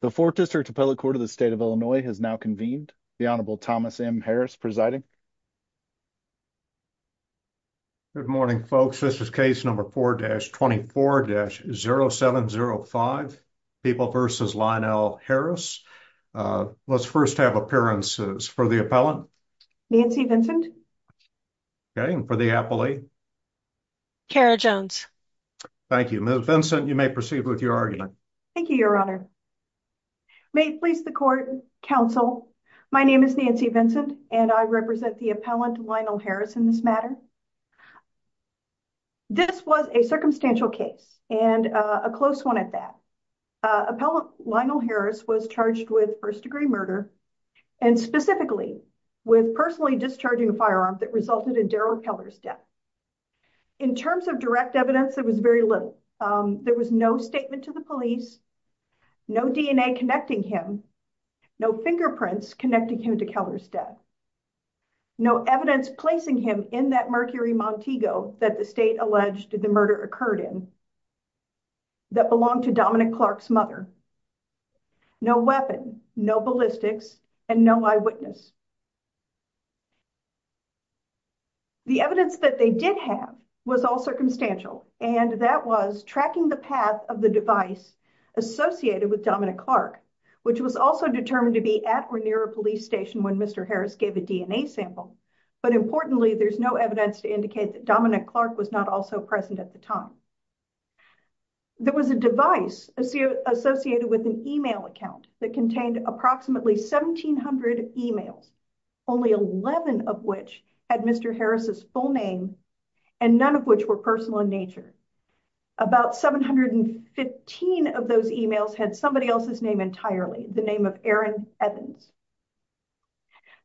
The fourth district appellate court of the state of Illinois has now convened. The Honorable Thomas M. Harris presiding. Good morning folks. This is case number 4-24-0705, People v. Lionel Harris. Let's first have appearances for the appellant. Nancy Vincent. Okay, and for the appellee? Kara Jones. Thank you. Ms. Vincent, you may proceed with your argument. Thank you, Your Honor. May it please the court, counsel, my name is Nancy Vincent and I represent the appellant Lionel Harris in this matter. This was a circumstantial case and a close one at that. Appellant Lionel Harris was charged with first degree murder and specifically with personally discharging a firearm that resulted in Darrell Keller's death. In terms of direct evidence, there was very little. There was no statement to the police, no DNA connecting him, no fingerprints connecting him to Keller's death, no evidence placing him in that Mercury Montego that the state alleged the murder occurred in that belonged to Dominic Clark's mother, no weapon, no ballistics, and no eyewitness. The evidence that they did have was all circumstantial and that was tracking the path of the device associated with Dominic Clark, which was also determined to be at or near a police station when Mr. Harris gave a DNA sample. But importantly, there's no evidence to indicate that Dominic Clark was not also present at the time. There was a device associated with an email account that contained approximately 1,700 emails, only 11 of which had Mr. Harris's full name and none of which were personal in nature. About 715 of those emails had somebody else's name entirely, the name of Aaron Evans.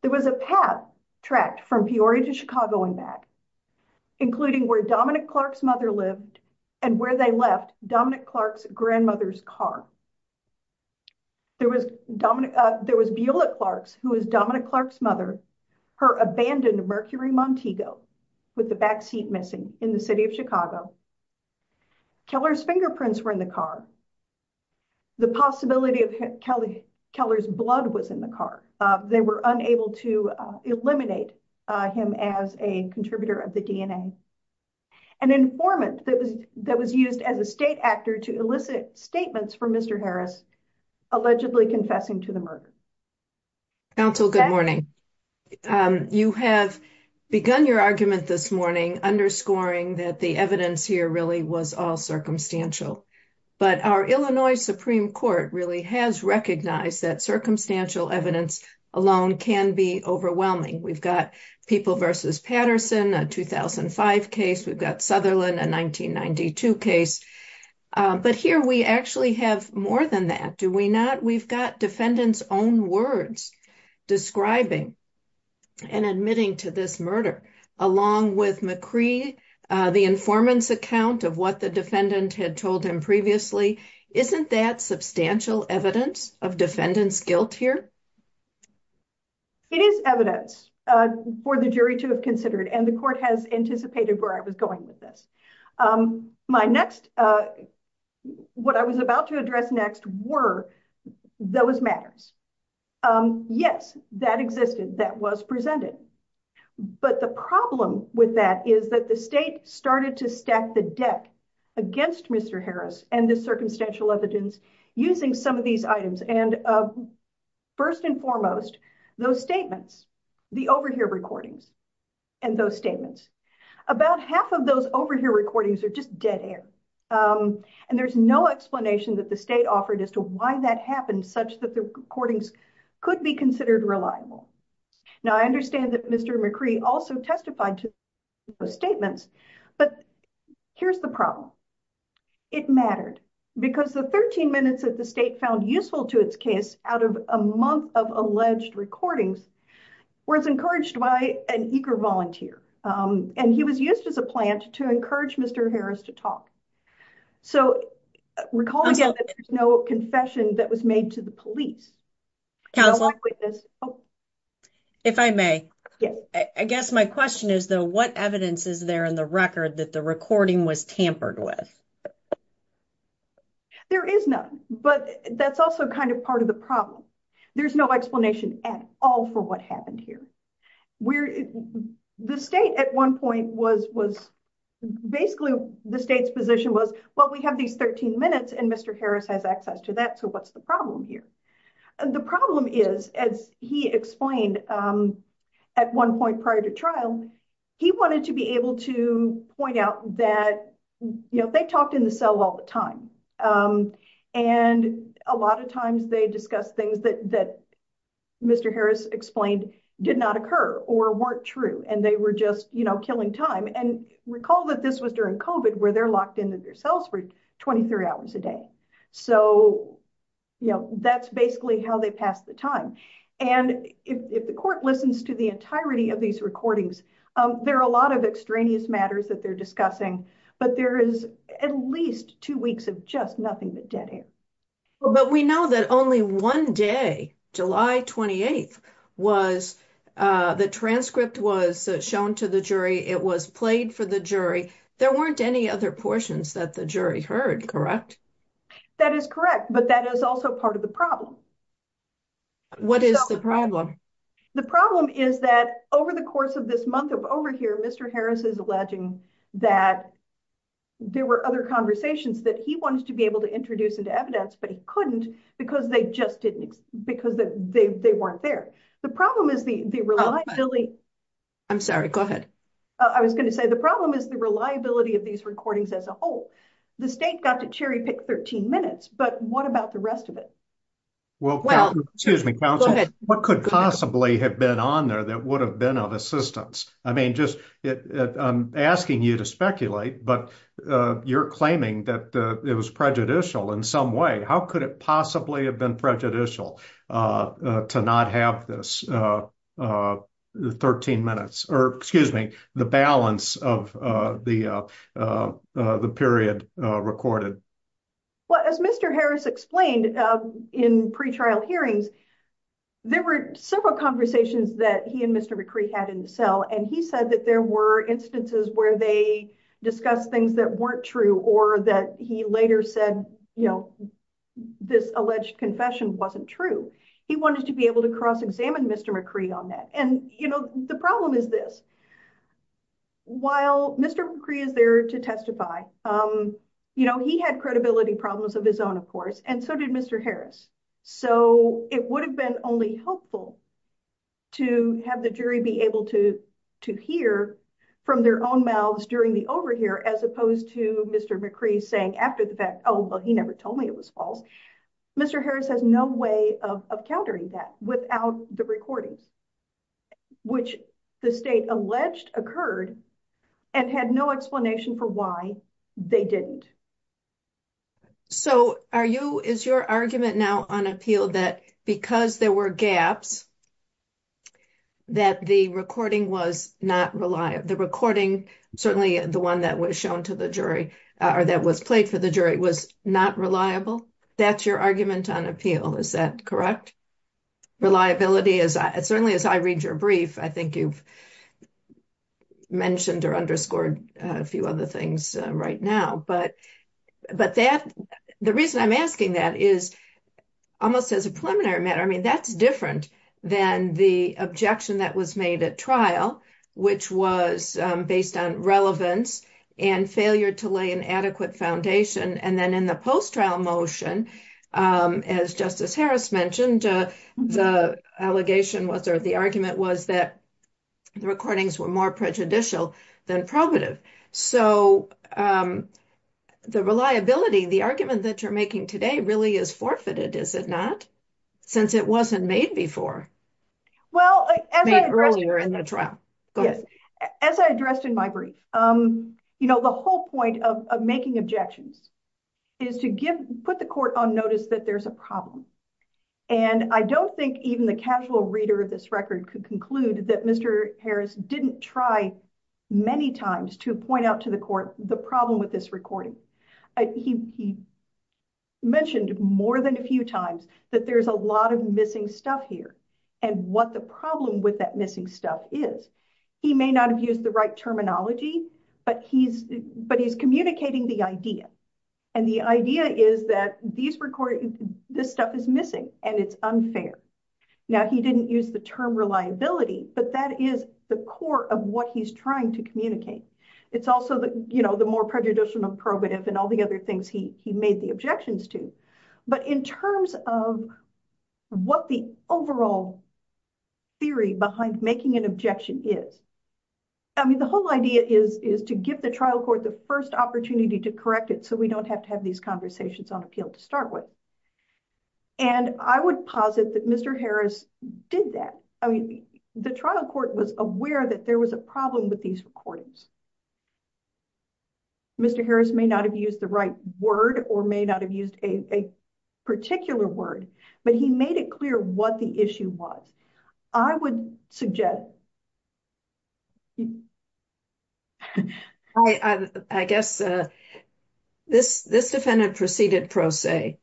There was a path tracked from Peoria to Chicago and back, including where Dominic Clark's mother lived and where they left Dominic Clark's grandmother's car. There was Beulah Clark's, who was Dominic Clark's mother, her abandoned Mercury Montego with the backseat missing in the city of Chicago. Keller's fingerprints were in the car. The possibility of Keller's blood was in the car. They were unable to eliminate him as a contributor of the DNA. An informant that was used as a state actor to elicit statements from Mr. Harris, allegedly confessing to the murder. Counsel, good morning. You have begun your argument this morning, underscoring that the evidence here really was all circumstantial. But our Illinois Supreme Court really has recognized that circumstantial evidence alone can be overwhelming. We've got People v. Patterson, a 2005 case. We've got Sutherland, a 1992 case. But here we actually have more than that, do we not? We've got defendants' own words describing and admitting to this murder, along with McCree, the informant's account of what the defendant had told him previously. Isn't that substantial evidence of defendant's guilt here? It is evidence for the jury to have considered, and the court has anticipated where I was going with this. What I was about to address next were those matters. Yes, that existed, that was presented. But the problem with that is that the state started to stack the deck against Mr. Harris and this circumstantial evidence using some of these items. And first and foremost, those statements, the overhear recordings and those statements. About half of those overhear recordings are just dead air. And there's no explanation that the state offered as to why that happened such that the recordings could be considered reliable. Now, I understand that Mr. McCree also testified to those statements, but here's the problem. It mattered because the 13 minutes that the state found useful to its case out of a month of alleged recordings was encouraged by an eager volunteer. And he was used as a plant to encourage Mr. Harris to talk. So recall again, there's no confession that was made to the police. If I may, I guess my question is though, what evidence is there in the record that the was tampered with? There is none, but that's also kind of part of the problem. There's no explanation at all for what happened here. The state at one point was basically, the state's position was, well, we have these 13 minutes and Mr. Harris has access to that. So what's the problem here? The problem is, as he explained at one point prior to trial, he wanted to be able to point out that they talked in the cell all the time. And a lot of times they discuss things that Mr. Harris explained did not occur or weren't true, and they were just killing time. And recall that this was during COVID where they're locked into their cells for 23 hours a day. So that's basically how they pass the time. And if the court listens to the entirety of these recordings, there are a lot of extraneous matters that they're discussing, but there is at least two weeks of just nothing but dead air. But we know that only one day, July 28th, was the transcript was shown to the jury. It was played for the jury. There weren't any other portions that the jury heard, correct? That is correct, but that is also part of the problem. What is the problem? The problem is that over the course of this month of overhear, Mr. Harris is alleging that there were other conversations that he wanted to be able to introduce into evidence, but he couldn't because they weren't there. The problem is the reliability of these recordings as a whole. The state got to cherry pick 13 minutes, but what about the rest of it? Well, excuse me, counsel, what could possibly have been on there that would have been of assistance? I mean, I'm asking you to speculate, but you're claiming that it was prejudicial in some way. How could it possibly have been prejudicial to not have this 13 minutes, or excuse me, the balance of the period recorded? Well, as Mr. Harris explained in pre-trial hearings, there were several conversations that he and Mr. McCree had in the cell. He said that there were instances where they discussed things that weren't true, or that he later said this alleged confession wasn't true. He wanted to be able to cross-examine Mr. McCree on that. The problem is this, while Mr. McCree is there to testify, he had credibility problems of his own, of course, and so did Mr. Harris. It would have been only helpful to have the jury be able to hear from their own mouths during the overhear as opposed to Mr. McCree saying after the fact, oh, well, he never told me it was false. Mr. Harris has no way of countering that without the recordings, which the state alleged occurred and had no explanation for why they didn't. So, is your argument now on appeal that because there were gaps, that the recording was not reliable? The recording, certainly the one that was shown to the jury, or that was played for the jury, was not reliable? That's your argument on appeal, is that correct? Reliability, certainly as I read your brief, I think you've mentioned or underscored a few other things right now, but the reason I'm asking that is almost as a preliminary matter, I mean, that's different than the objection that was made at trial, which was based on relevance and failure to lay an adequate foundation, and then in the Harris mentioned, the allegation was, or the argument was that the recordings were more prejudicial than probative. So, the reliability, the argument that you're making today really is forfeited, is it not? Since it wasn't made before, made earlier in the trial. As I addressed in my brief, you know, the whole point of making objections is to put the court on notice that there's a problem, and I don't think even the casual reader of this record could conclude that Mr. Harris didn't try many times to point out to the court the problem with this recording. He mentioned more than a few times that there's a lot of missing stuff here, and what the problem with that missing stuff is. He may not have used the terminology, but he's communicating the idea, and the idea is that this stuff is missing, and it's unfair. Now, he didn't use the term reliability, but that is the core of what he's trying to communicate. It's also the more prejudicial than probative and all the other things he made the objections to, but in terms of what the overall theory behind making an objection is, I mean, the whole idea is to give the trial court the first opportunity to correct it so we don't have to have these conversations on appeal to start with, and I would posit that Mr. Harris did that. I mean, the trial court was aware that there was a problem with these recordings. Mr. Harris may not have used the right word or may not have used a particular word, but he made clear what the issue was. I would suggest... I guess this defendant proceeded pro se.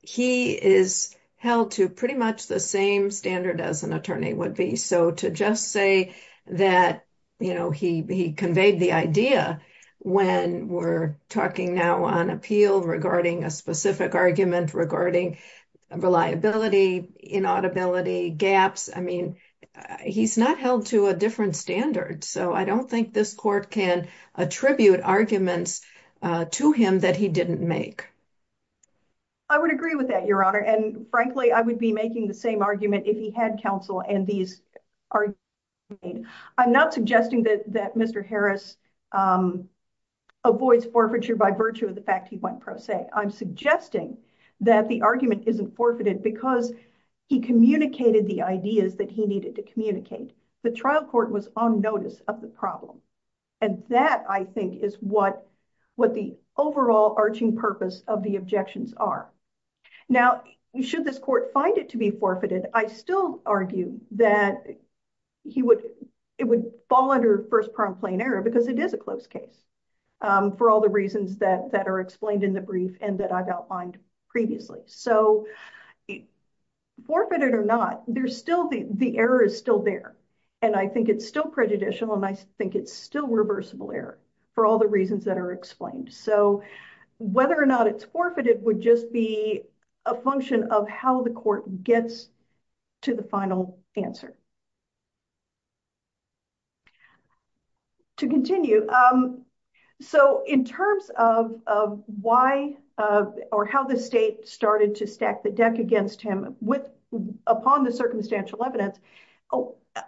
He is held to pretty much the same standard as an attorney would be, so to just say that he conveyed the idea when we're talking now on appeal regarding a specific argument regarding reliability, inaudibility, gaps, I mean, he's not held to a different standard, so I don't think this court can attribute arguments to him that he didn't make. I would agree with that, Your Honor, and frankly, I would be making the same argument if he had counsel and these arguments were made. I'm not suggesting that Mr. Harris made the argument pro se. I'm suggesting that the argument isn't forfeited because he communicated the ideas that he needed to communicate. The trial court was on notice of the problem, and that, I think, is what the overall arching purpose of the objections are. Now, should this court find it to be forfeited, I still argue that it would fall under first plain error because it is a closed case for all the reasons that are explained in the brief and that I've outlined previously, so forfeited or not, the error is still there, and I think it's still prejudicial, and I think it's still reversible error for all the reasons that are explained, so whether or not it's forfeited would just be a function of how the court gets to the final answer. To continue, so in terms of why or how the state started to stack the deck against him upon the circumstantial evidence,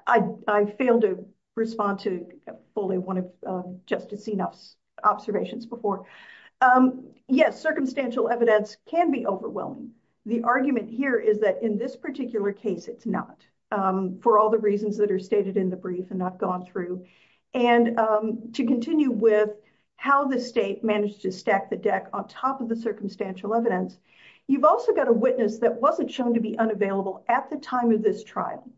I failed to respond to fully one of Justice Zinoff's observations before. Yes, circumstantial evidence can be overwhelming. The argument here is that in this particular case, it's not for all the reasons that are stated in the brief and I've gone through, and to continue with how the state managed to stack the deck on top of the circumstantial evidence, you've also got a witness that wasn't shown to be unavailable at the time of this trial.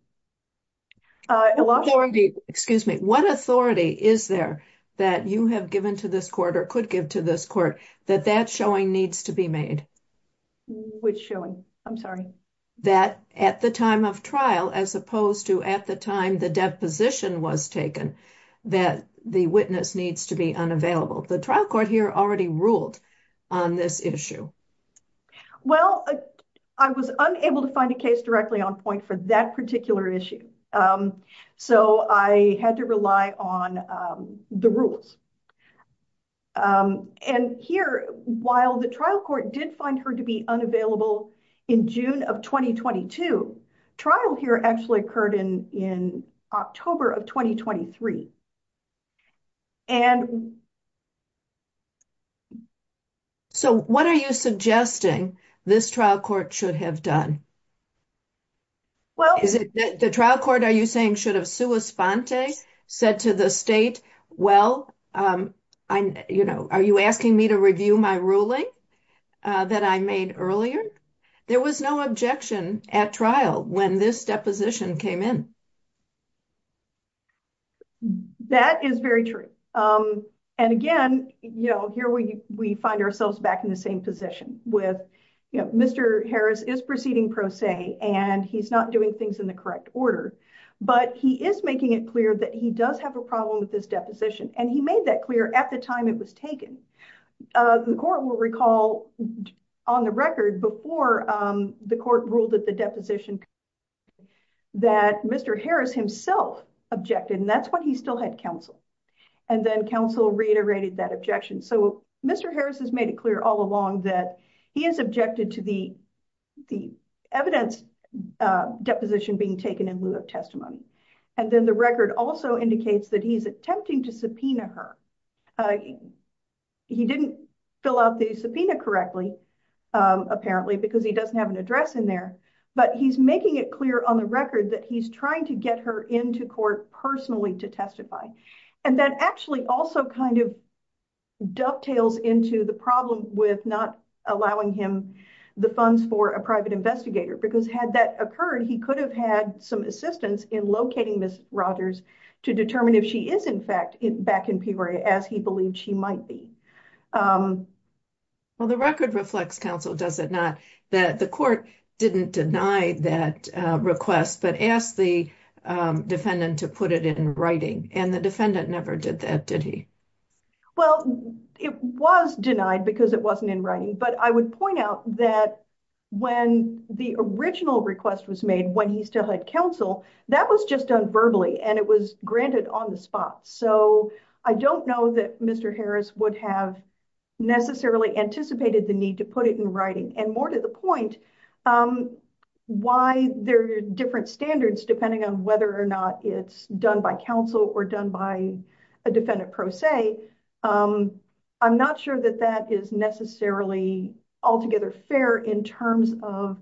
Excuse me, what authority is there that you have given to this court or could give to this court that that showing needs to be made? Which showing? I'm sorry. That at the time of trial, as opposed to at the time the deposition was taken, that the witness needs to be unavailable. The trial court here already ruled on this issue. Well, I was unable to find a case directly on point for that particular issue, so I had to rely on the rules. And here, while the trial court did find her to be unavailable in June of 2022, trial here actually occurred in October of 2023. And so what are you suggesting this trial court should have done? Well, is it the trial court are you saying should have sua sponte, said to the state, well, you know, are you asking me to review my ruling that I made earlier? There was no objection at trial when this deposition came in. That is very true. And again, you know, here we find ourselves back in the same position with, you know, Mr. Harris is proceeding pro se, and he's not doing things in the correct order, but he is making it clear that he does have a problem with this deposition. And he made that clear at the time it was taken. The court will recall on the record before the court ruled that the deposition that Mr. Harris himself objected, and that's when he still had counsel. And then counsel reiterated that objection. So Mr. Harris has made it clear all along that he is objected the evidence deposition being taken in lieu of testimony. And then the record also indicates that he's attempting to subpoena her. He didn't fill out the subpoena correctly, apparently, because he doesn't have an address in there. But he's making it clear on the record that he's trying to get her into court personally to testify. And that actually also kind of dovetails into the problem with not allowing him the funds for a private investigator, because had that occurred, he could have had some assistance in locating Ms. Rogers to determine if she is in fact back in Peoria as he believed she might be. Well, the record reflects counsel, does it not, that the court didn't deny that request, but asked the defendant to put it in writing. And the defendant never did that, did he? Well, it was denied because it wasn't in writing. But I would point out that when the original request was made when he still had counsel, that was just done verbally and it was granted on the spot. So I don't know that Mr. Harris would have necessarily anticipated the need to put it in writing. And more to the point, why there are different standards depending on whether or not it's done by counsel or done by a defendant pro se, I'm not sure that that is necessarily altogether fair in terms of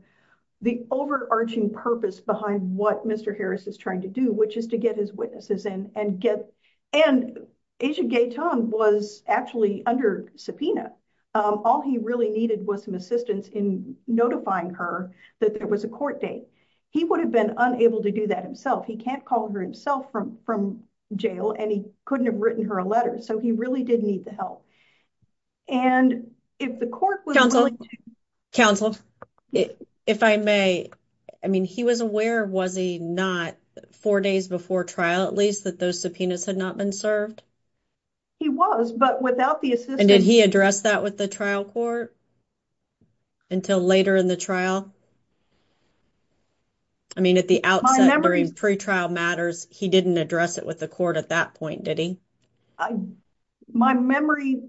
the overarching purpose behind what Mr. Harris is trying to do, which is to get his witnesses in and get... And Aja Gay-Tong was actually under subpoena. All he really needed was some assistance in notifying her that there was a court date. He would have been unable to do that himself. He can't call her himself from jail and he couldn't have written her a letter. So he really did need the help. And if the court was... Counsel, if I may, I mean, he was aware, was he not, four days before trial, at least, that those subpoenas had not been served? He was, but without the assistance... And did he address that with the trial? I mean, at the outset during pre-trial matters, he didn't address it with the court at that point, did he? My memory...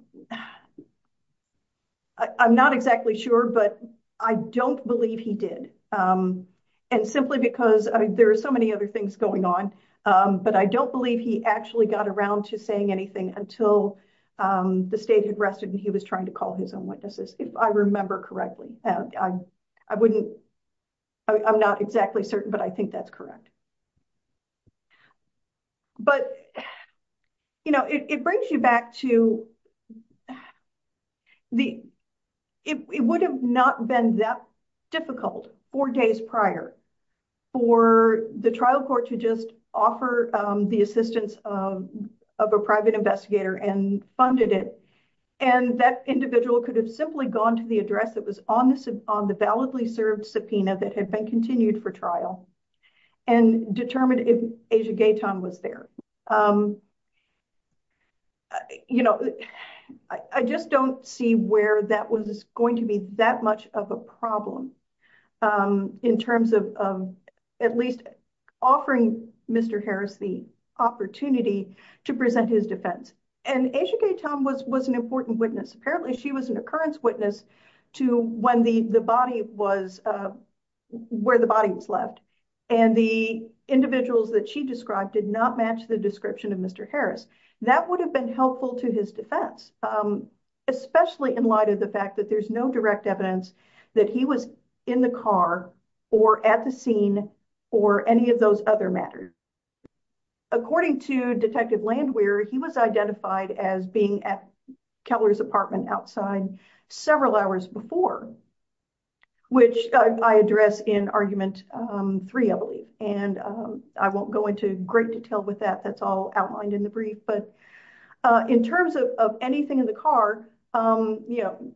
I'm not exactly sure, but I don't believe he did. And simply because there are so many other things going on, but I don't believe he actually got around to saying anything until the state had rested and he was trying to call his own witnesses, if I remember correctly. I'm not exactly certain, but I think that's correct. But it brings you back to... It would have not been that difficult, four days prior, for the trial court to just offer the assistance of a private investigator and funded it. And that individual could have simply gone to the address that was on the validly served subpoena that had been continued for trial and determined if Asia Gaytan was there. I just don't see where that was going to be that much of a problem in terms of at least offering Mr. Harris the opportunity to present his defense. And Asia Gaytan was an important witness. Apparently, she was an occurrence witness to where the body was left. And the individuals that she described did not match the description of Mr. Harris. That would have been helpful to his defense, especially in light of the fact that there's no direct evidence that he was in the car or at the scene or any of those other matters. According to Detective Landwehr, he was identified as being at Kepler's apartment outside several hours before, which I address in Argument 3, I believe. And I won't go into great detail with that. That's all outlined in the brief. But in terms of anything in the car, you know,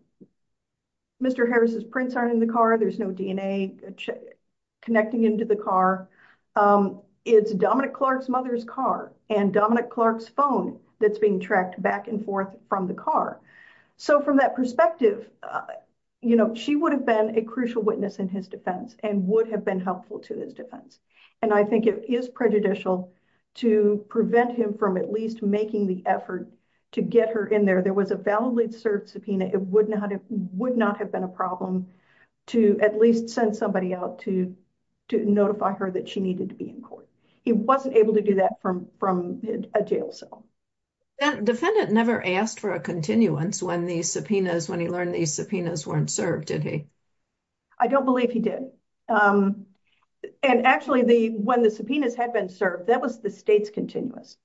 Mr. Harris's prints aren't in the car. There's no DNA connecting into the car. It's Dominic Clark's mother's car and Dominic Clark's phone that's being tracked back and forth from the car. So from that perspective, you know, she would have been a crucial witness in his defense and would have been helpful to his defense. And I think it is prejudicial to prevent him from at least making the effort to get her in there. There was a validly served subpoena. It would not have been a problem to at least send somebody out to notify her that she needed to be in court. He wasn't able to do that from a jail cell. Defendant never asked for a continuance when he learned these subpoenas weren't served, did he? I don't believe he did. And actually, when the subpoenas had been served, that was the state's continuance.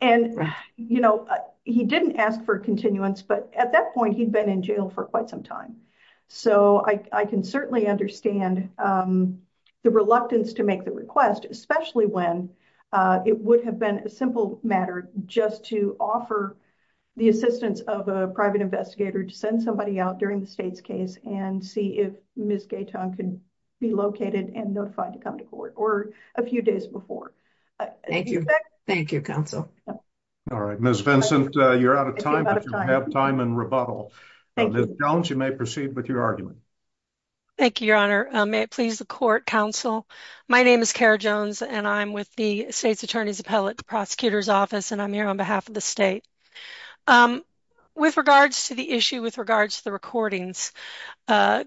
And, you know, he didn't ask for continuance, but at that point, he'd been in jail for quite some time. So I can certainly understand the reluctance to make the request, especially when it would have been a simple matter just to offer the assistance of a private investigator to send somebody out during the state's case and see if Ms. Gaetan could be located and notified to come to court or a few days before. Thank you. Thank you, counsel. All right, Ms. Vincent, you're out of time, but you have time and rebuttal. Ms. Jones, you may proceed with your argument. Thank you, your honor. May it please the court, counsel. My name is Kara Jones and I'm with the state's attorney's appellate prosecutor's office and I'm here on behalf of the state. With regards to the issue, with regards to the recordings, your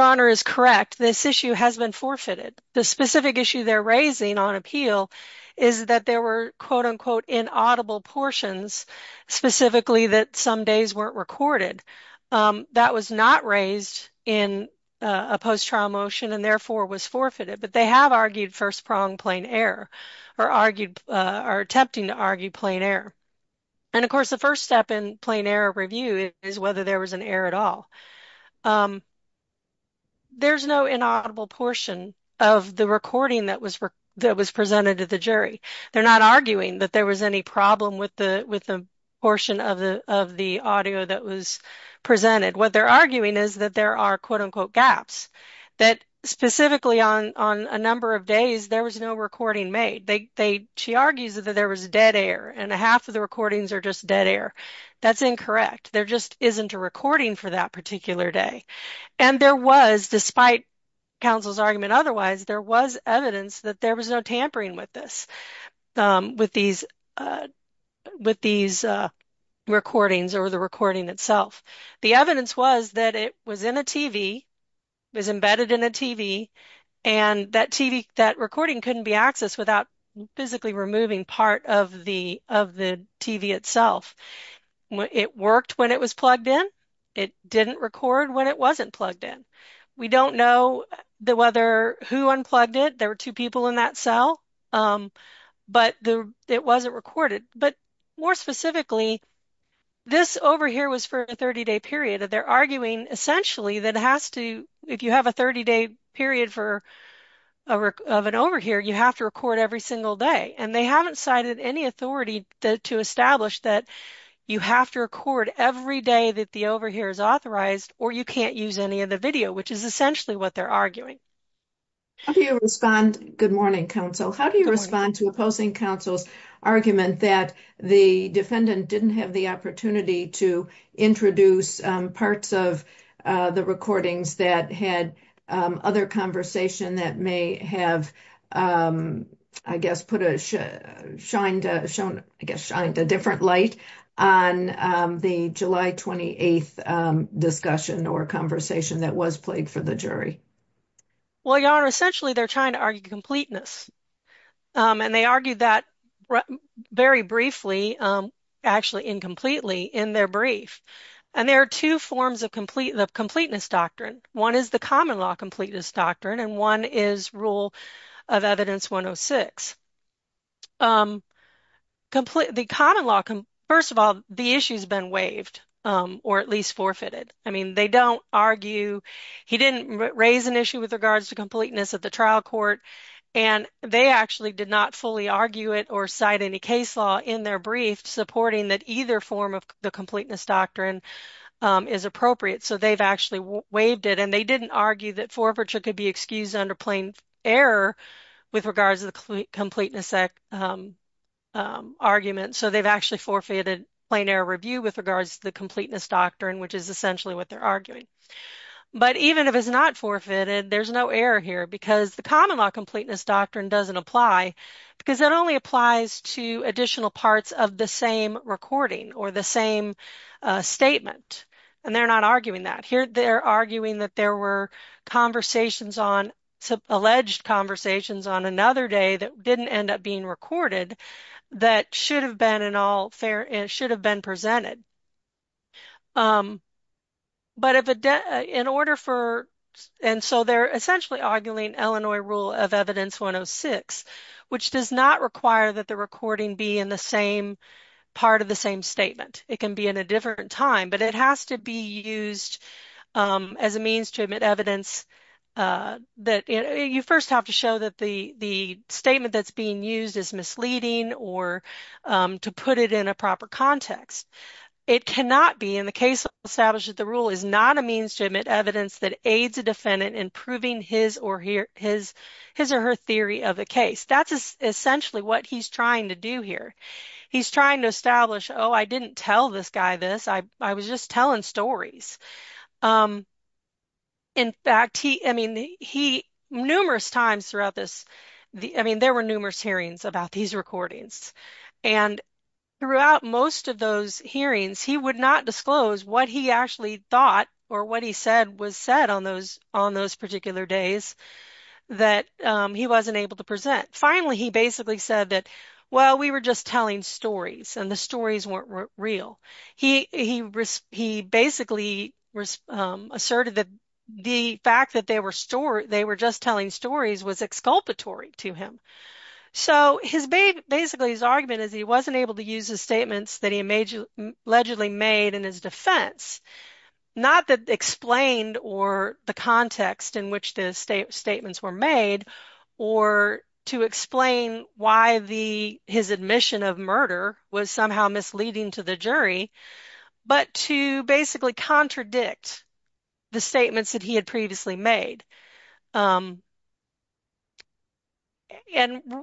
honor is correct. This issue has been forfeited. The specific issue they're raising on appeal is that there were quote-unquote inaudible portions, specifically that some days weren't recorded. That was not raised in a post-trial motion and therefore was forfeited, but they have argued first prong plain error or argued or attempting to argue plain error. And of course, the first step in plain error review is whether there was an error at all. There's no inaudible portion of the recording that was that was presented to the jury. They're not arguing that there was any problem with the with the portion of the of the audio that was presented. What they're arguing is that there are quote-unquote gaps that specifically on on a number of days there was no recording made. They they she argues that there was dead air and a half of the recordings are just dead air. That's incorrect. There just isn't a recording for that particular day. And there was, despite counsel's argument otherwise, there was evidence that there was no tampering with this with these with these recordings or recording itself. The evidence was that it was in a TV, was embedded in a TV, and that TV that recording couldn't be accessed without physically removing part of the of the TV itself. It worked when it was plugged in. It didn't record when it wasn't plugged in. We don't know the whether who unplugged it. There were two people in that cell, but it wasn't recorded. But more specifically, this over here was for a 30-day period that they're arguing essentially that has to if you have a 30-day period for a work of an over here, you have to record every single day. And they haven't cited any authority to establish that you have to record every day that the over here is authorized or you can't use any of the video, which is essentially what they're arguing. How do you respond? Good morning, counsel. How do you respond to opposing counsel's argument that the defendant didn't have the opportunity to introduce parts of the recordings that had other conversation that may have, I guess, put a shine, shown, I guess, shined a different light on the July 28 discussion or conversation that was played for the jury? Well, Your Honor, essentially, they're trying to argue completeness. And they argued that very briefly, actually incompletely in their brief. And there are two forms of completeness doctrine. One is the common law completeness doctrine, and one is rule of evidence 106. The common law, first of all, the issue's been waived, or at least forfeited. I mean, they don't argue. He didn't raise an issue with regards to completeness at the trial court. And they actually did not fully argue it or cite any case law in their brief supporting that either form of the completeness doctrine is appropriate. So they've actually waived it. And they didn't argue that forfeiture could be excused under plain error with regards to the completeness argument. So they've actually forfeited plain error review with regards to the common law completeness doctrine, which is essentially what they're arguing. But even if it's not forfeited, there's no error here because the common law completeness doctrine doesn't apply because it only applies to additional parts of the same recording or the same statement. And they're not arguing that here. They're arguing that there were conversations on alleged conversations on another day that didn't end up being recorded that should have been in all fair and should have been presented. But in order for, and so they're essentially arguing Illinois rule of evidence 106, which does not require that the recording be in the same part of the same statement. It can be in a different time, but it has to be used as a means to admit evidence that you first have to show that the statement that's being used is misleading or to put it in a proper context. It cannot be in the case established that the rule is not a means to admit evidence that aids a defendant in proving his or her theory of the case. That's essentially what he's trying to do here. He's trying to establish, oh, I didn't tell this guy this. I was just telling stories. In fact, he, I mean, he numerous times throughout this, I mean, there were numerous hearings about these recordings and throughout most of those hearings, he would not disclose what he actually thought or what he said was said on those, on those particular days that he wasn't able to present. Finally, he basically said that, well, we were just telling stories and the stories weren't real. He, he, he basically asserted that the fact that they were stored, they were just telling stories was exculpatory to him. So his, basically his argument is he wasn't able to use the statements that he allegedly made in his defense, not that explained or the context in which the state statements were made or to explain why the, his admission of murder was somehow misleading to the jury, but to basically contradict the statements that he had previously made. And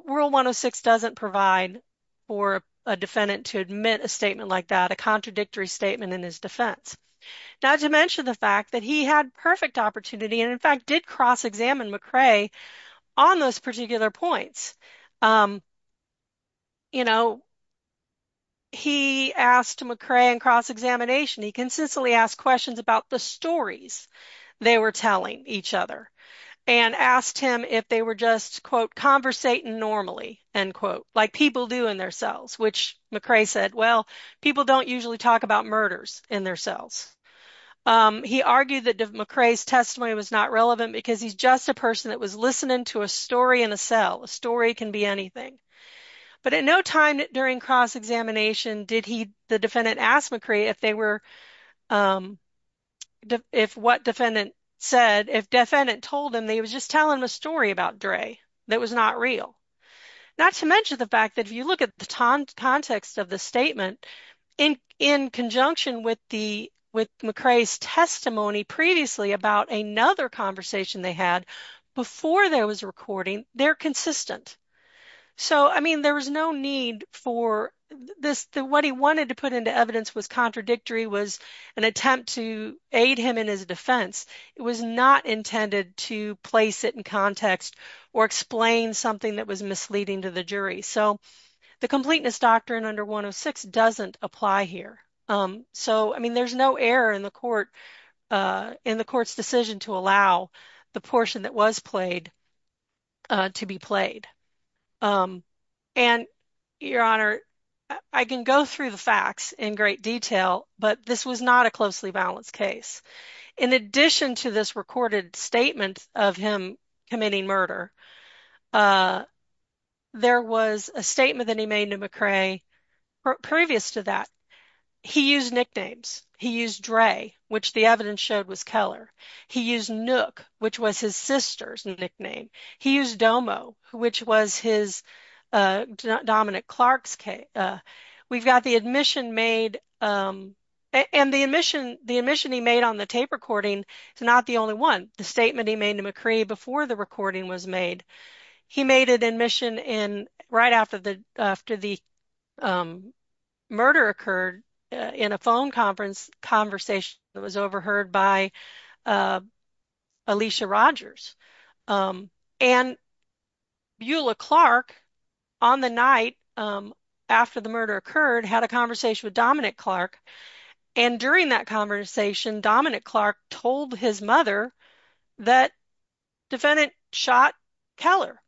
Rule 106 doesn't provide for a defendant to admit a statement like that, a contradictory statement in his defense. Not to mention the fact that he had perfect opportunity and, in fact, did cross-examine McCrae on those particular points. You know, he asked McCrae in cross-examination, he consistently asked questions about the stories they were telling each other and asked him if they were just, quote, conversating normally, end quote, like people do in their cells, which McCrae said, well, people don't usually talk about murders in their cells. He argued that McCrae's testimony was not relevant because he's just a person that was listening to a story in a cell. A story can be anything. But at no time during cross-examination did he, the defendant, ask McCrae if they were, if what defendant said, if defendant told him they was just telling a story about Dray that was not real. Not to mention the fact that if you look at the context of the statement in conjunction with the, with McCrae's testimony previously about another conversation they had before there was a recording, they're consistent. So, I mean, there was no need for this. What he wanted to put into evidence was contradictory, was an attempt to aid him in his defense. It was not intended to place it in context or explain something that was misleading to the jury. So the completeness doctrine under 106 doesn't apply here. So, I mean, there's no error in the court's decision to allow the portion that was played to be played. And, Your Honor, I can go through the facts in great detail, but this was not a closely balanced case. In addition to this recorded statement of him committing murder, there was a statement that he made to McCrae previous to that. He used nicknames. He used Dray, which the evidence showed was Keller. He used Nook, which was his sister's nickname. He used Domo, which was his dominant Clark's case. We've got the admission made, and the admission, the admission he made on the tape recording is not the only one. The statement he made to McCrae before the recording was made. He made an admission right after the murder occurred in a phone conference conversation that was overheard by Alicia Rogers. And Eula Clark, on the night after the murder occurred, had a conversation with Dominic Clark. And during that conversation, Dominic Clark told his mother that defendant shot Keller.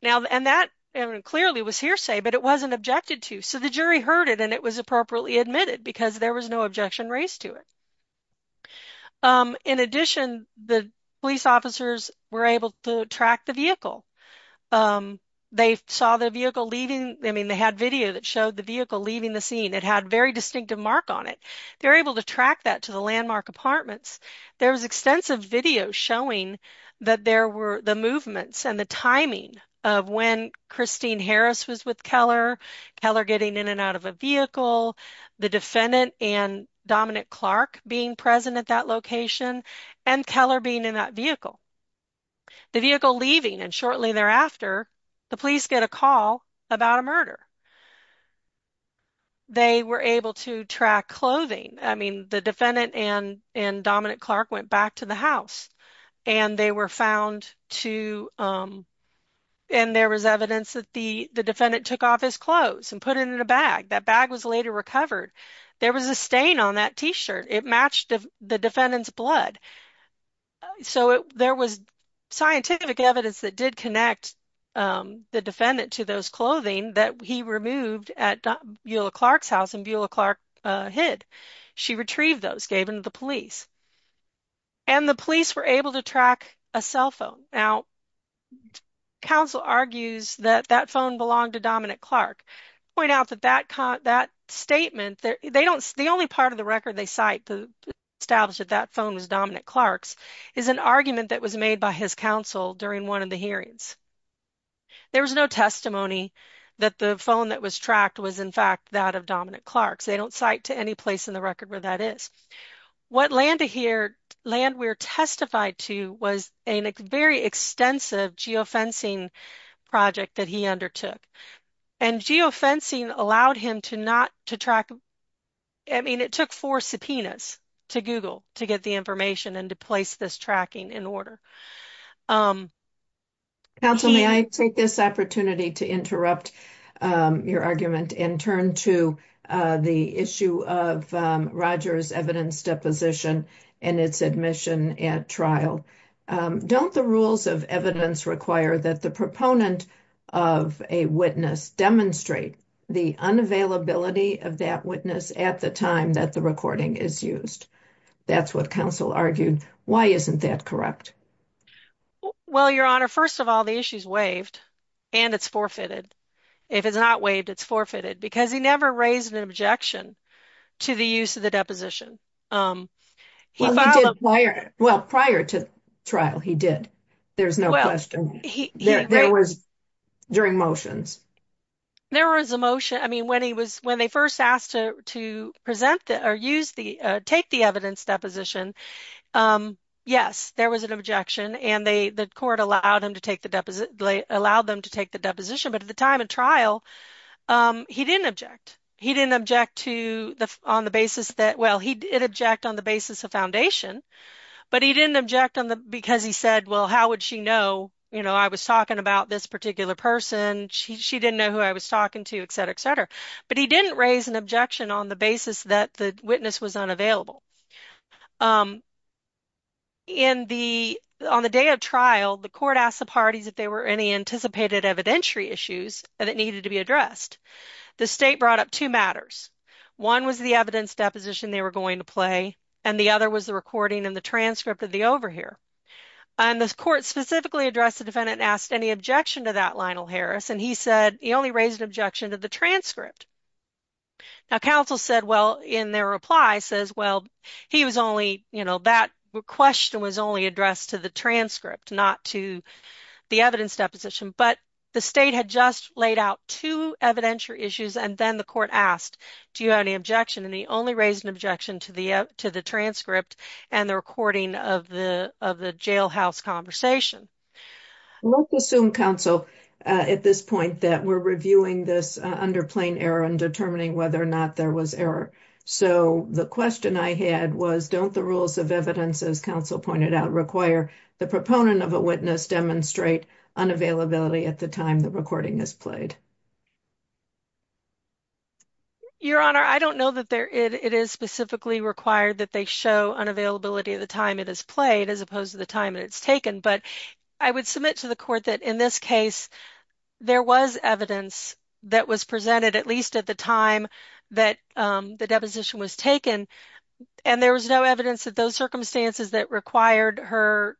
Now, and that clearly was hearsay, but it wasn't objected to. So the jury heard it, and it was appropriately admitted because there was no objection raised to it. In addition, the police officers were able to track the vehicle. They saw the vehicle leaving. I mean, they had video that showed the vehicle leaving the scene. It had a very distinctive mark on it. They were able to track that to the landmark apartments. There was extensive video showing that there were the movements and the timing of when Christine Harris was with Keller, Keller getting in and out of a vehicle, the defendant and Dominic Clark being present at that location, and Keller being in that vehicle. The vehicle leaving, and shortly thereafter, the police get a call about a murder. They were able to track clothing. I mean, the defendant and Dominic Clark went back to the house, and they were found to, and there was evidence that the defendant took off his clothes and put it in a bag. That bag was later recovered. There was a stain on that t-shirt. It matched the defendant's blood. So there was scientific evidence that did connect the defendant to those he removed at Eula Clark's house and Eula Clark hid. She retrieved those, gave them to the police, and the police were able to track a cell phone. Now, counsel argues that that phone belonged to Dominic Clark. Point out that that statement, they don't, the only part of the record they cite established that that phone was Dominic Clark's is an argument that was made by his counsel during one of the hearings. There was no testimony that the phone that was tracked was, in fact, that of Dominic Clark's. They don't cite to any place in the record where that is. What Landwehr testified to was a very extensive geofencing project that he undertook, and geofencing allowed him to not to track, I mean, it took four subpoenas to Google to get the information and to place this tracking in order. Counsel, may I take this opportunity to interrupt your argument and turn to the issue of Roger's evidence deposition and its admission at trial? Don't the rules of evidence require that the proponent of a witness demonstrate the unavailability of that witness at the time that the recording is used? That's what counsel argued. Why isn't that correct? Well, your honor, first of all, the issue's waived and it's forfeited. If it's not waived, it's forfeited because he never raised an objection to the use of the deposition. Well, prior to trial, he did. There's no question. There was during motions. There was a motion, I mean, when he was when they first asked to to present or use the take the evidence deposition, yes, there was an objection and the court allowed him to take the deposit, allowed them to take the deposition, but at the time of trial, he didn't object. He didn't object to the on the basis that, well, he did object on the basis of foundation, but he didn't object on the because he said, well, how would she know? You know, I was talking about this particular person. She didn't know who I was talking to, et cetera, et cetera, but he didn't raise an objection on the basis that the witness was unavailable. On the day of trial, the court asked the parties if there were any anticipated evidentiary issues that needed to be addressed. The state brought up two matters. One was the deposition they were going to play, and the other was the recording and the transcript of the over here. And this court specifically addressed the defendant and asked any objection to that Lionel Harris, and he said he only raised an objection to the transcript. Now, counsel said, well, in their reply says, well, he was only, you know, that question was only addressed to the transcript, not to the evidence deposition, but the state had just laid out two evidentiary issues, and then the court asked, do you have any objection? And he only raised an objection to the transcript and the recording of the jailhouse conversation. Let's assume, counsel, at this point that we're reviewing this under plain error and determining whether or not there was error. So the question I had was, don't the rules of evidence, as counsel pointed out, require the proponent of a witness demonstrate unavailability at the time the recording is played? Your Honor, I don't know that it is specifically required that they show unavailability at the time it is played as opposed to the time it's taken, but I would submit to the court that in this case there was evidence that was presented at least at the time that the deposition was taken, and there was no evidence that those circumstances that required her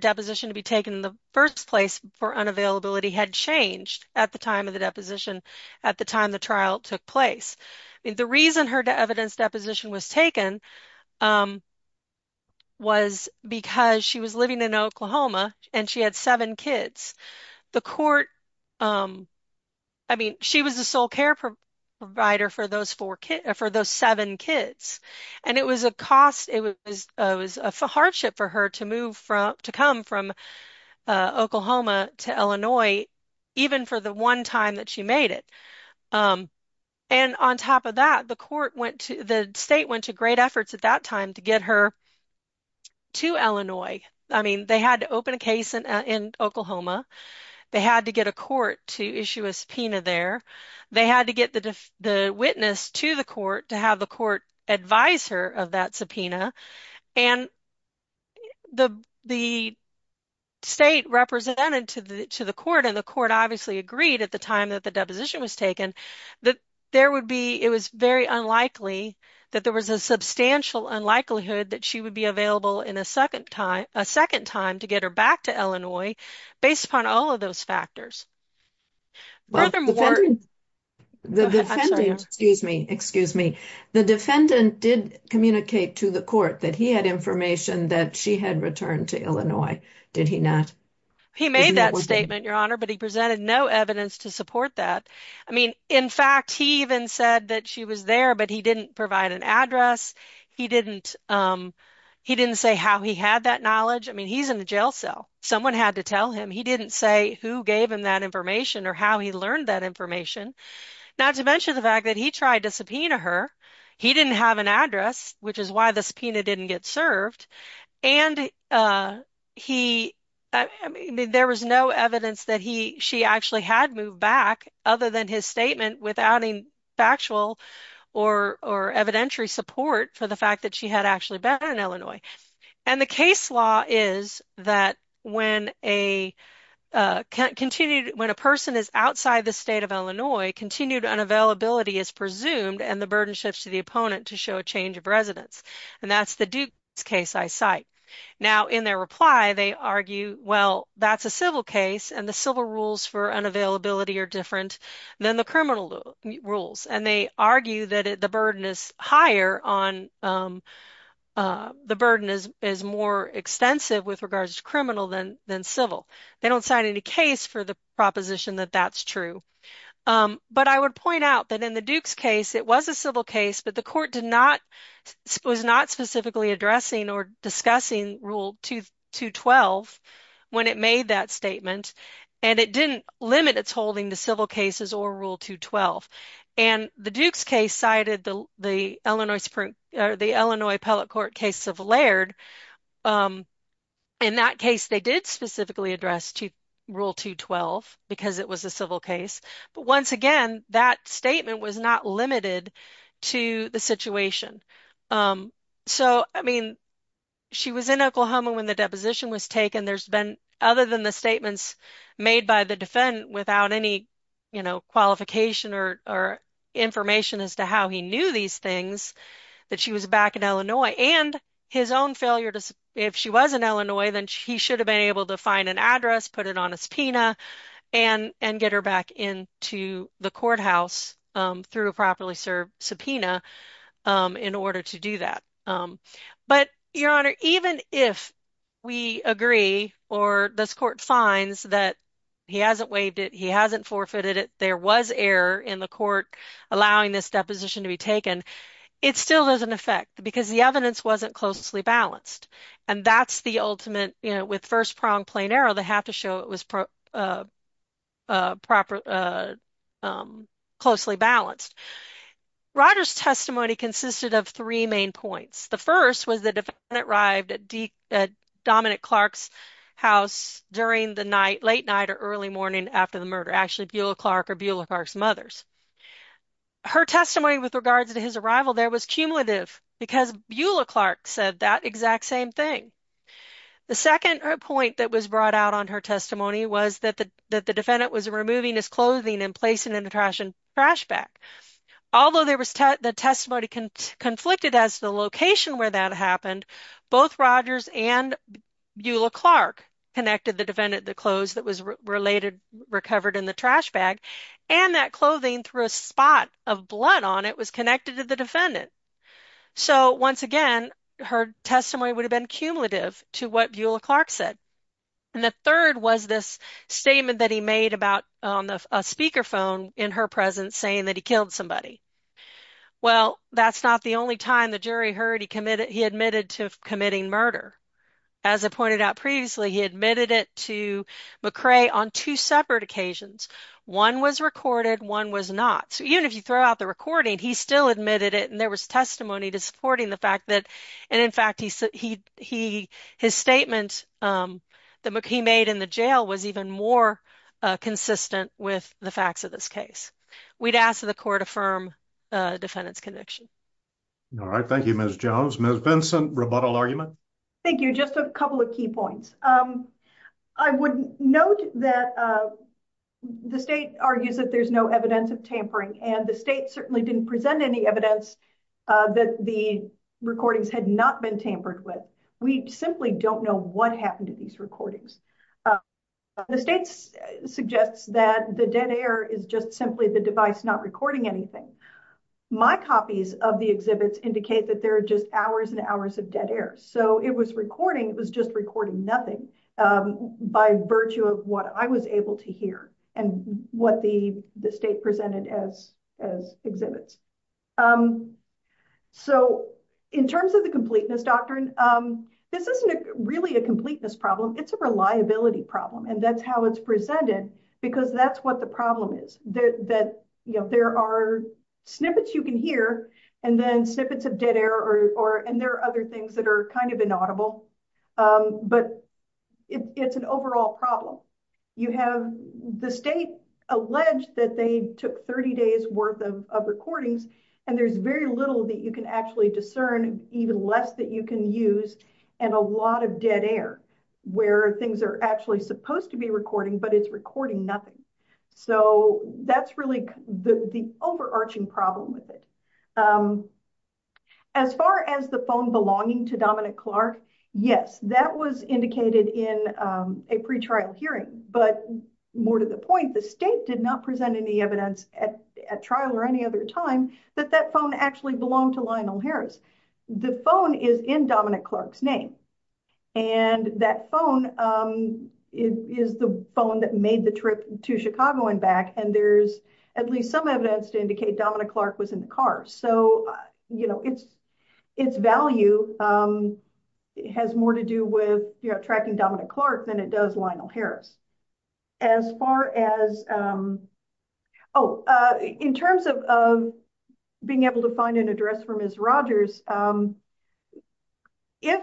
deposition to be taken in the first place for unavailability had changed at the time of the deposition at the trial took place. The reason her evidence deposition was taken was because she was living in Oklahoma and she had seven kids. The court, I mean, she was the sole care provider for those seven kids, and it was a cost, it was a hardship for her to move from, to come from Oklahoma to Illinois even for the one time that she made it. And on top of that, the court went to, the state went to great efforts at that time to get her to Illinois. I mean, they had to open a case in Oklahoma, they had to get a court to issue a subpoena there, they had to get the witness to the court to have the court advise her of that subpoena, and the state represented to the court, and the court obviously agreed at the time that the deposition was taken, that there would be, it was very unlikely that there was a substantial unlikelihood that she would be available in a second time, a second time to get her back to Illinois based upon all of those factors. Well, the defendant, excuse me, excuse me, the defendant did communicate to the court that he had information that she had returned to Illinois, did he not? He made that statement, Your Honor, but he presented no evidence to support that. I mean, in fact, he even said that she was there, but he didn't provide an address, he didn't, he didn't say how he had that knowledge. I mean, he's in the jail cell, someone had to tell him, he didn't say who gave him that information or how he learned that information, not to mention the fact that he tried to subpoena her, he didn't have an address, which is why the subpoena didn't get served, and he, I mean, there was no evidence that he, she actually had moved back other than his statement without any factual or evidentiary support for the fact that she had actually been in Illinois, and the case law is that when a continued, when a person is outside the state of Illinois, continued unavailability is presumed, and the burden shifts to the opponent to show a change of residence, and that's the Dukes case I cite. Now, in their reply, they argue, well, that's a civil case, and the civil rules for unavailability are different than the criminal rules, and they argue that the burden is higher on, the burden is, is more extensive with regards to criminal than, than civil. They don't sign any case for the proposition that that's true, but I would point out that in the Dukes case, it was a civil case, but the court did not, was not specifically addressing or discussing Rule 212 when it made that statement, and it didn't limit its holding to civil cases or Rule 212, and the Dukes case cited the Illinois Supreme, the Illinois Appellate Court case of Laird. In that case, they did specifically address to Rule 212 because it was a civil case, but once again, that statement was not limited to the situation. So, I mean, she was in Oklahoma when the deposition was taken. There's been, other than the statements made by the defendant without any, you know, qualification or, or information as to how he knew these things, that she was back in Illinois, and his own failure to, if she was in Illinois, then he should have been able to find an address, put it on a subpoena, and, and get her back into the courthouse through a properly served subpoena in order to do that. But, Your Honor, even if we agree, or this court finds that he hasn't waived it, he hasn't forfeited it, there was error in the court allowing this deposition to be taken, it still doesn't affect, because the evidence wasn't closely balanced, and that's the ultimate, you know, with first prong plain arrow, they have to show it was properly, closely balanced. Rogers' testimony consisted of three main points. The first was the defendant arrived at Dominic Clark's house during the night, late night or early morning after the murder, actually Beulah Clark or Beulah Clark's mother's. Her testimony with regards to his arrival there was cumulative, because Beulah Clark said that exact same thing. The second point that was brought out on her testimony was that the, that the defendant was removing his clothing and placing in the trash, in the trash bag. Although there was, the testimony conflicted as to the location where that happened, both Rogers and Beulah Clark connected the defendant, the clothes that was related, recovered in the trash bag, and that clothing threw a spot of blood on it, was connected to the defendant. So once again, her testimony would have been cumulative to what Beulah Clark said. And the third was this statement that he made about a speakerphone in her presence saying that he killed somebody. Well, that's not the only time the jury heard he committed, he admitted to committing murder. As I pointed out previously, he admitted it to McRae on two separate occasions. One was recorded, one was not. So even if you throw out the recording, he still admitted it, and there was testimony to supporting the fact that, and in fact, he, his statement that he made in the jail was even more consistent with the facts of this case. We'd ask that the court affirm defendant's conviction. All right. Thank you, Ms. Jones. Ms. Vincent, rebuttal argument? Thank you. Just a couple of key points. I would note that the state argues that there's no evidence of tampering, and the state certainly didn't present any evidence that the recordings had not been tampered with. We simply don't know what happened to these recordings. The state suggests that the dead air is just simply the device not recording anything. My copies of the exhibits indicate that there are just hours and hours of dead air. So it was recording, it was just recording nothing by virtue of what I was able to hear and what the state presented as exhibits. So in terms of the completeness doctrine, this isn't really a completeness problem, it's a reliability problem, and that's how it's presented because that's what the problem is. There are snippets you can hear, and then snippets of dead air, and there are other things that are inaudible, but it's an overall problem. The state alleged that they took 30 days worth of recordings, and there's very little that you can actually discern, even less that you can use, and a lot of dead air where things are actually supposed to be recording, but it's recording nothing. So that's really the overarching problem with it. As far as the phone belonging to Dominic Clark, yes, that was indicated in a pre-trial hearing, but more to the point, the state did not present any evidence at trial or any other time that that phone actually belonged to Lionel Harris. The phone is in Dominic Clark's name, and that phone is the phone that made the trip to Chicago and back, and there's at least some evidence to indicate Dominic Clark was in the car. So, you know, its value has more to do with, you know, tracking Dominic Clark than it does Lionel Harris. In terms of being able to find an address for Ms. Rogers, if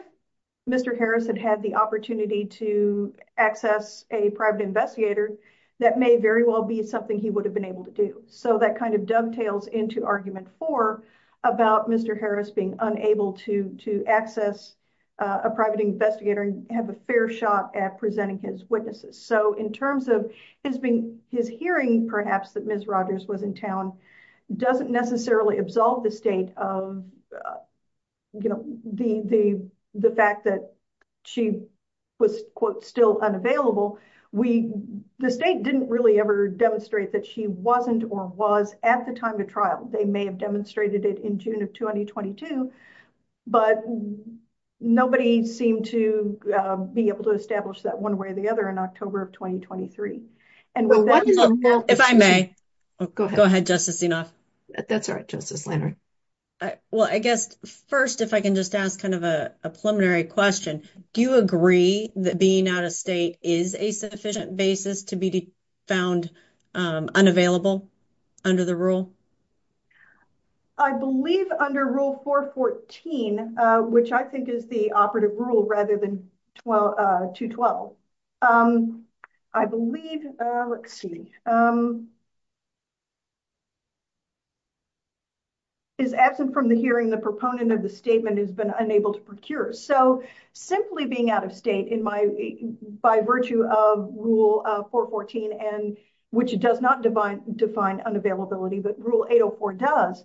Mr. Harris had had the opportunity to access a private investigator, that may very well be something he would have been able to do. So that kind of dovetails into Argument 4 about Mr. Harris being unable to access a private investigator and have a fair shot at presenting his witnesses. So in terms of his hearing, perhaps, that Ms. Rogers was in town, doesn't necessarily absolve the state of the fact that she was, quote, still unavailable. The state didn't really ever demonstrate that she wasn't or was at the time of trial. They may have demonstrated it in June of 2022, but nobody seemed to be able to establish that one way or the other in October of 2023. If I may. Go ahead, Justice Zinoff. That's all right, Justice Lannert. Well, I guess first, if I can just ask kind of a preliminary question, do you agree that being out is a sufficient basis to be found unavailable under the rule? I believe under Rule 414, which I think is the operative rule rather than 212, I believe, is absent from the hearing the proponent of the statement has been unable to procure. So by virtue of Rule 414, which does not define unavailability, but Rule 804 does,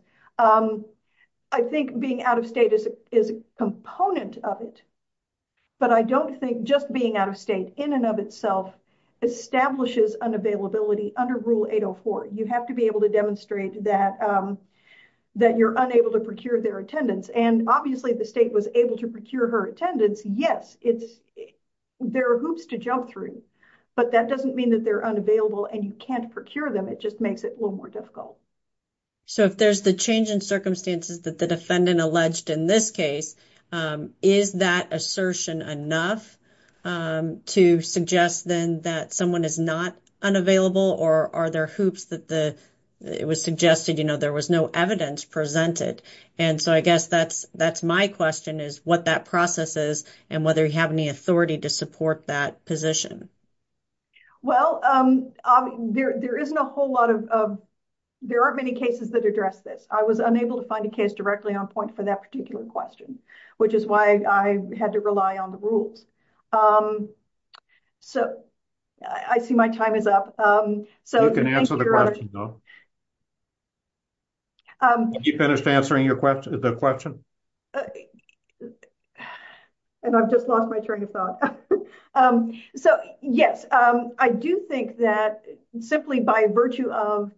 I think being out of state is a component of it. But I don't think just being out of state in and of itself establishes unavailability under Rule 804. You have to be able to demonstrate that you're unable to procure their attendance. And obviously, the state was able to procure her attendance. Yes, there are hoops to jump through, but that doesn't mean that they're unavailable and you can't procure them. It just makes it a little more difficult. So if there's the change in circumstances that the defendant alleged in this case, is that assertion enough to suggest then that someone is not unavailable or are there hoops that it was suggested, you know, there was no evidence presented? And so I guess that's my question is what that process is and whether you have any authority to support that position. Well, there isn't a whole lot of, there aren't many cases that address this. I was unable to find a case directly on point for that particular question, which is why I had to rely on the rules. So I see my time is up. So you can answer the question, though. Have you finished answering the question? And I've just lost my train of thought. So yes, I do think that simply by virtue of,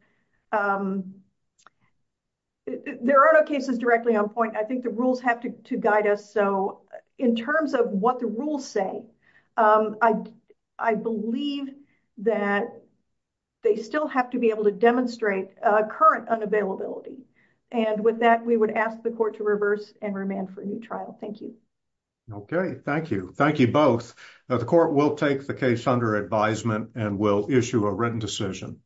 there are no cases directly on point. I think the rules have to guide us. So in terms of what the rules say, I believe that they still have to be able to demonstrate current unavailability. And with that, we would ask the court to reverse and remand for a new trial. Thank you. Okay. Thank you. Thank you both. The court will take the case under advisement and will issue a written decision.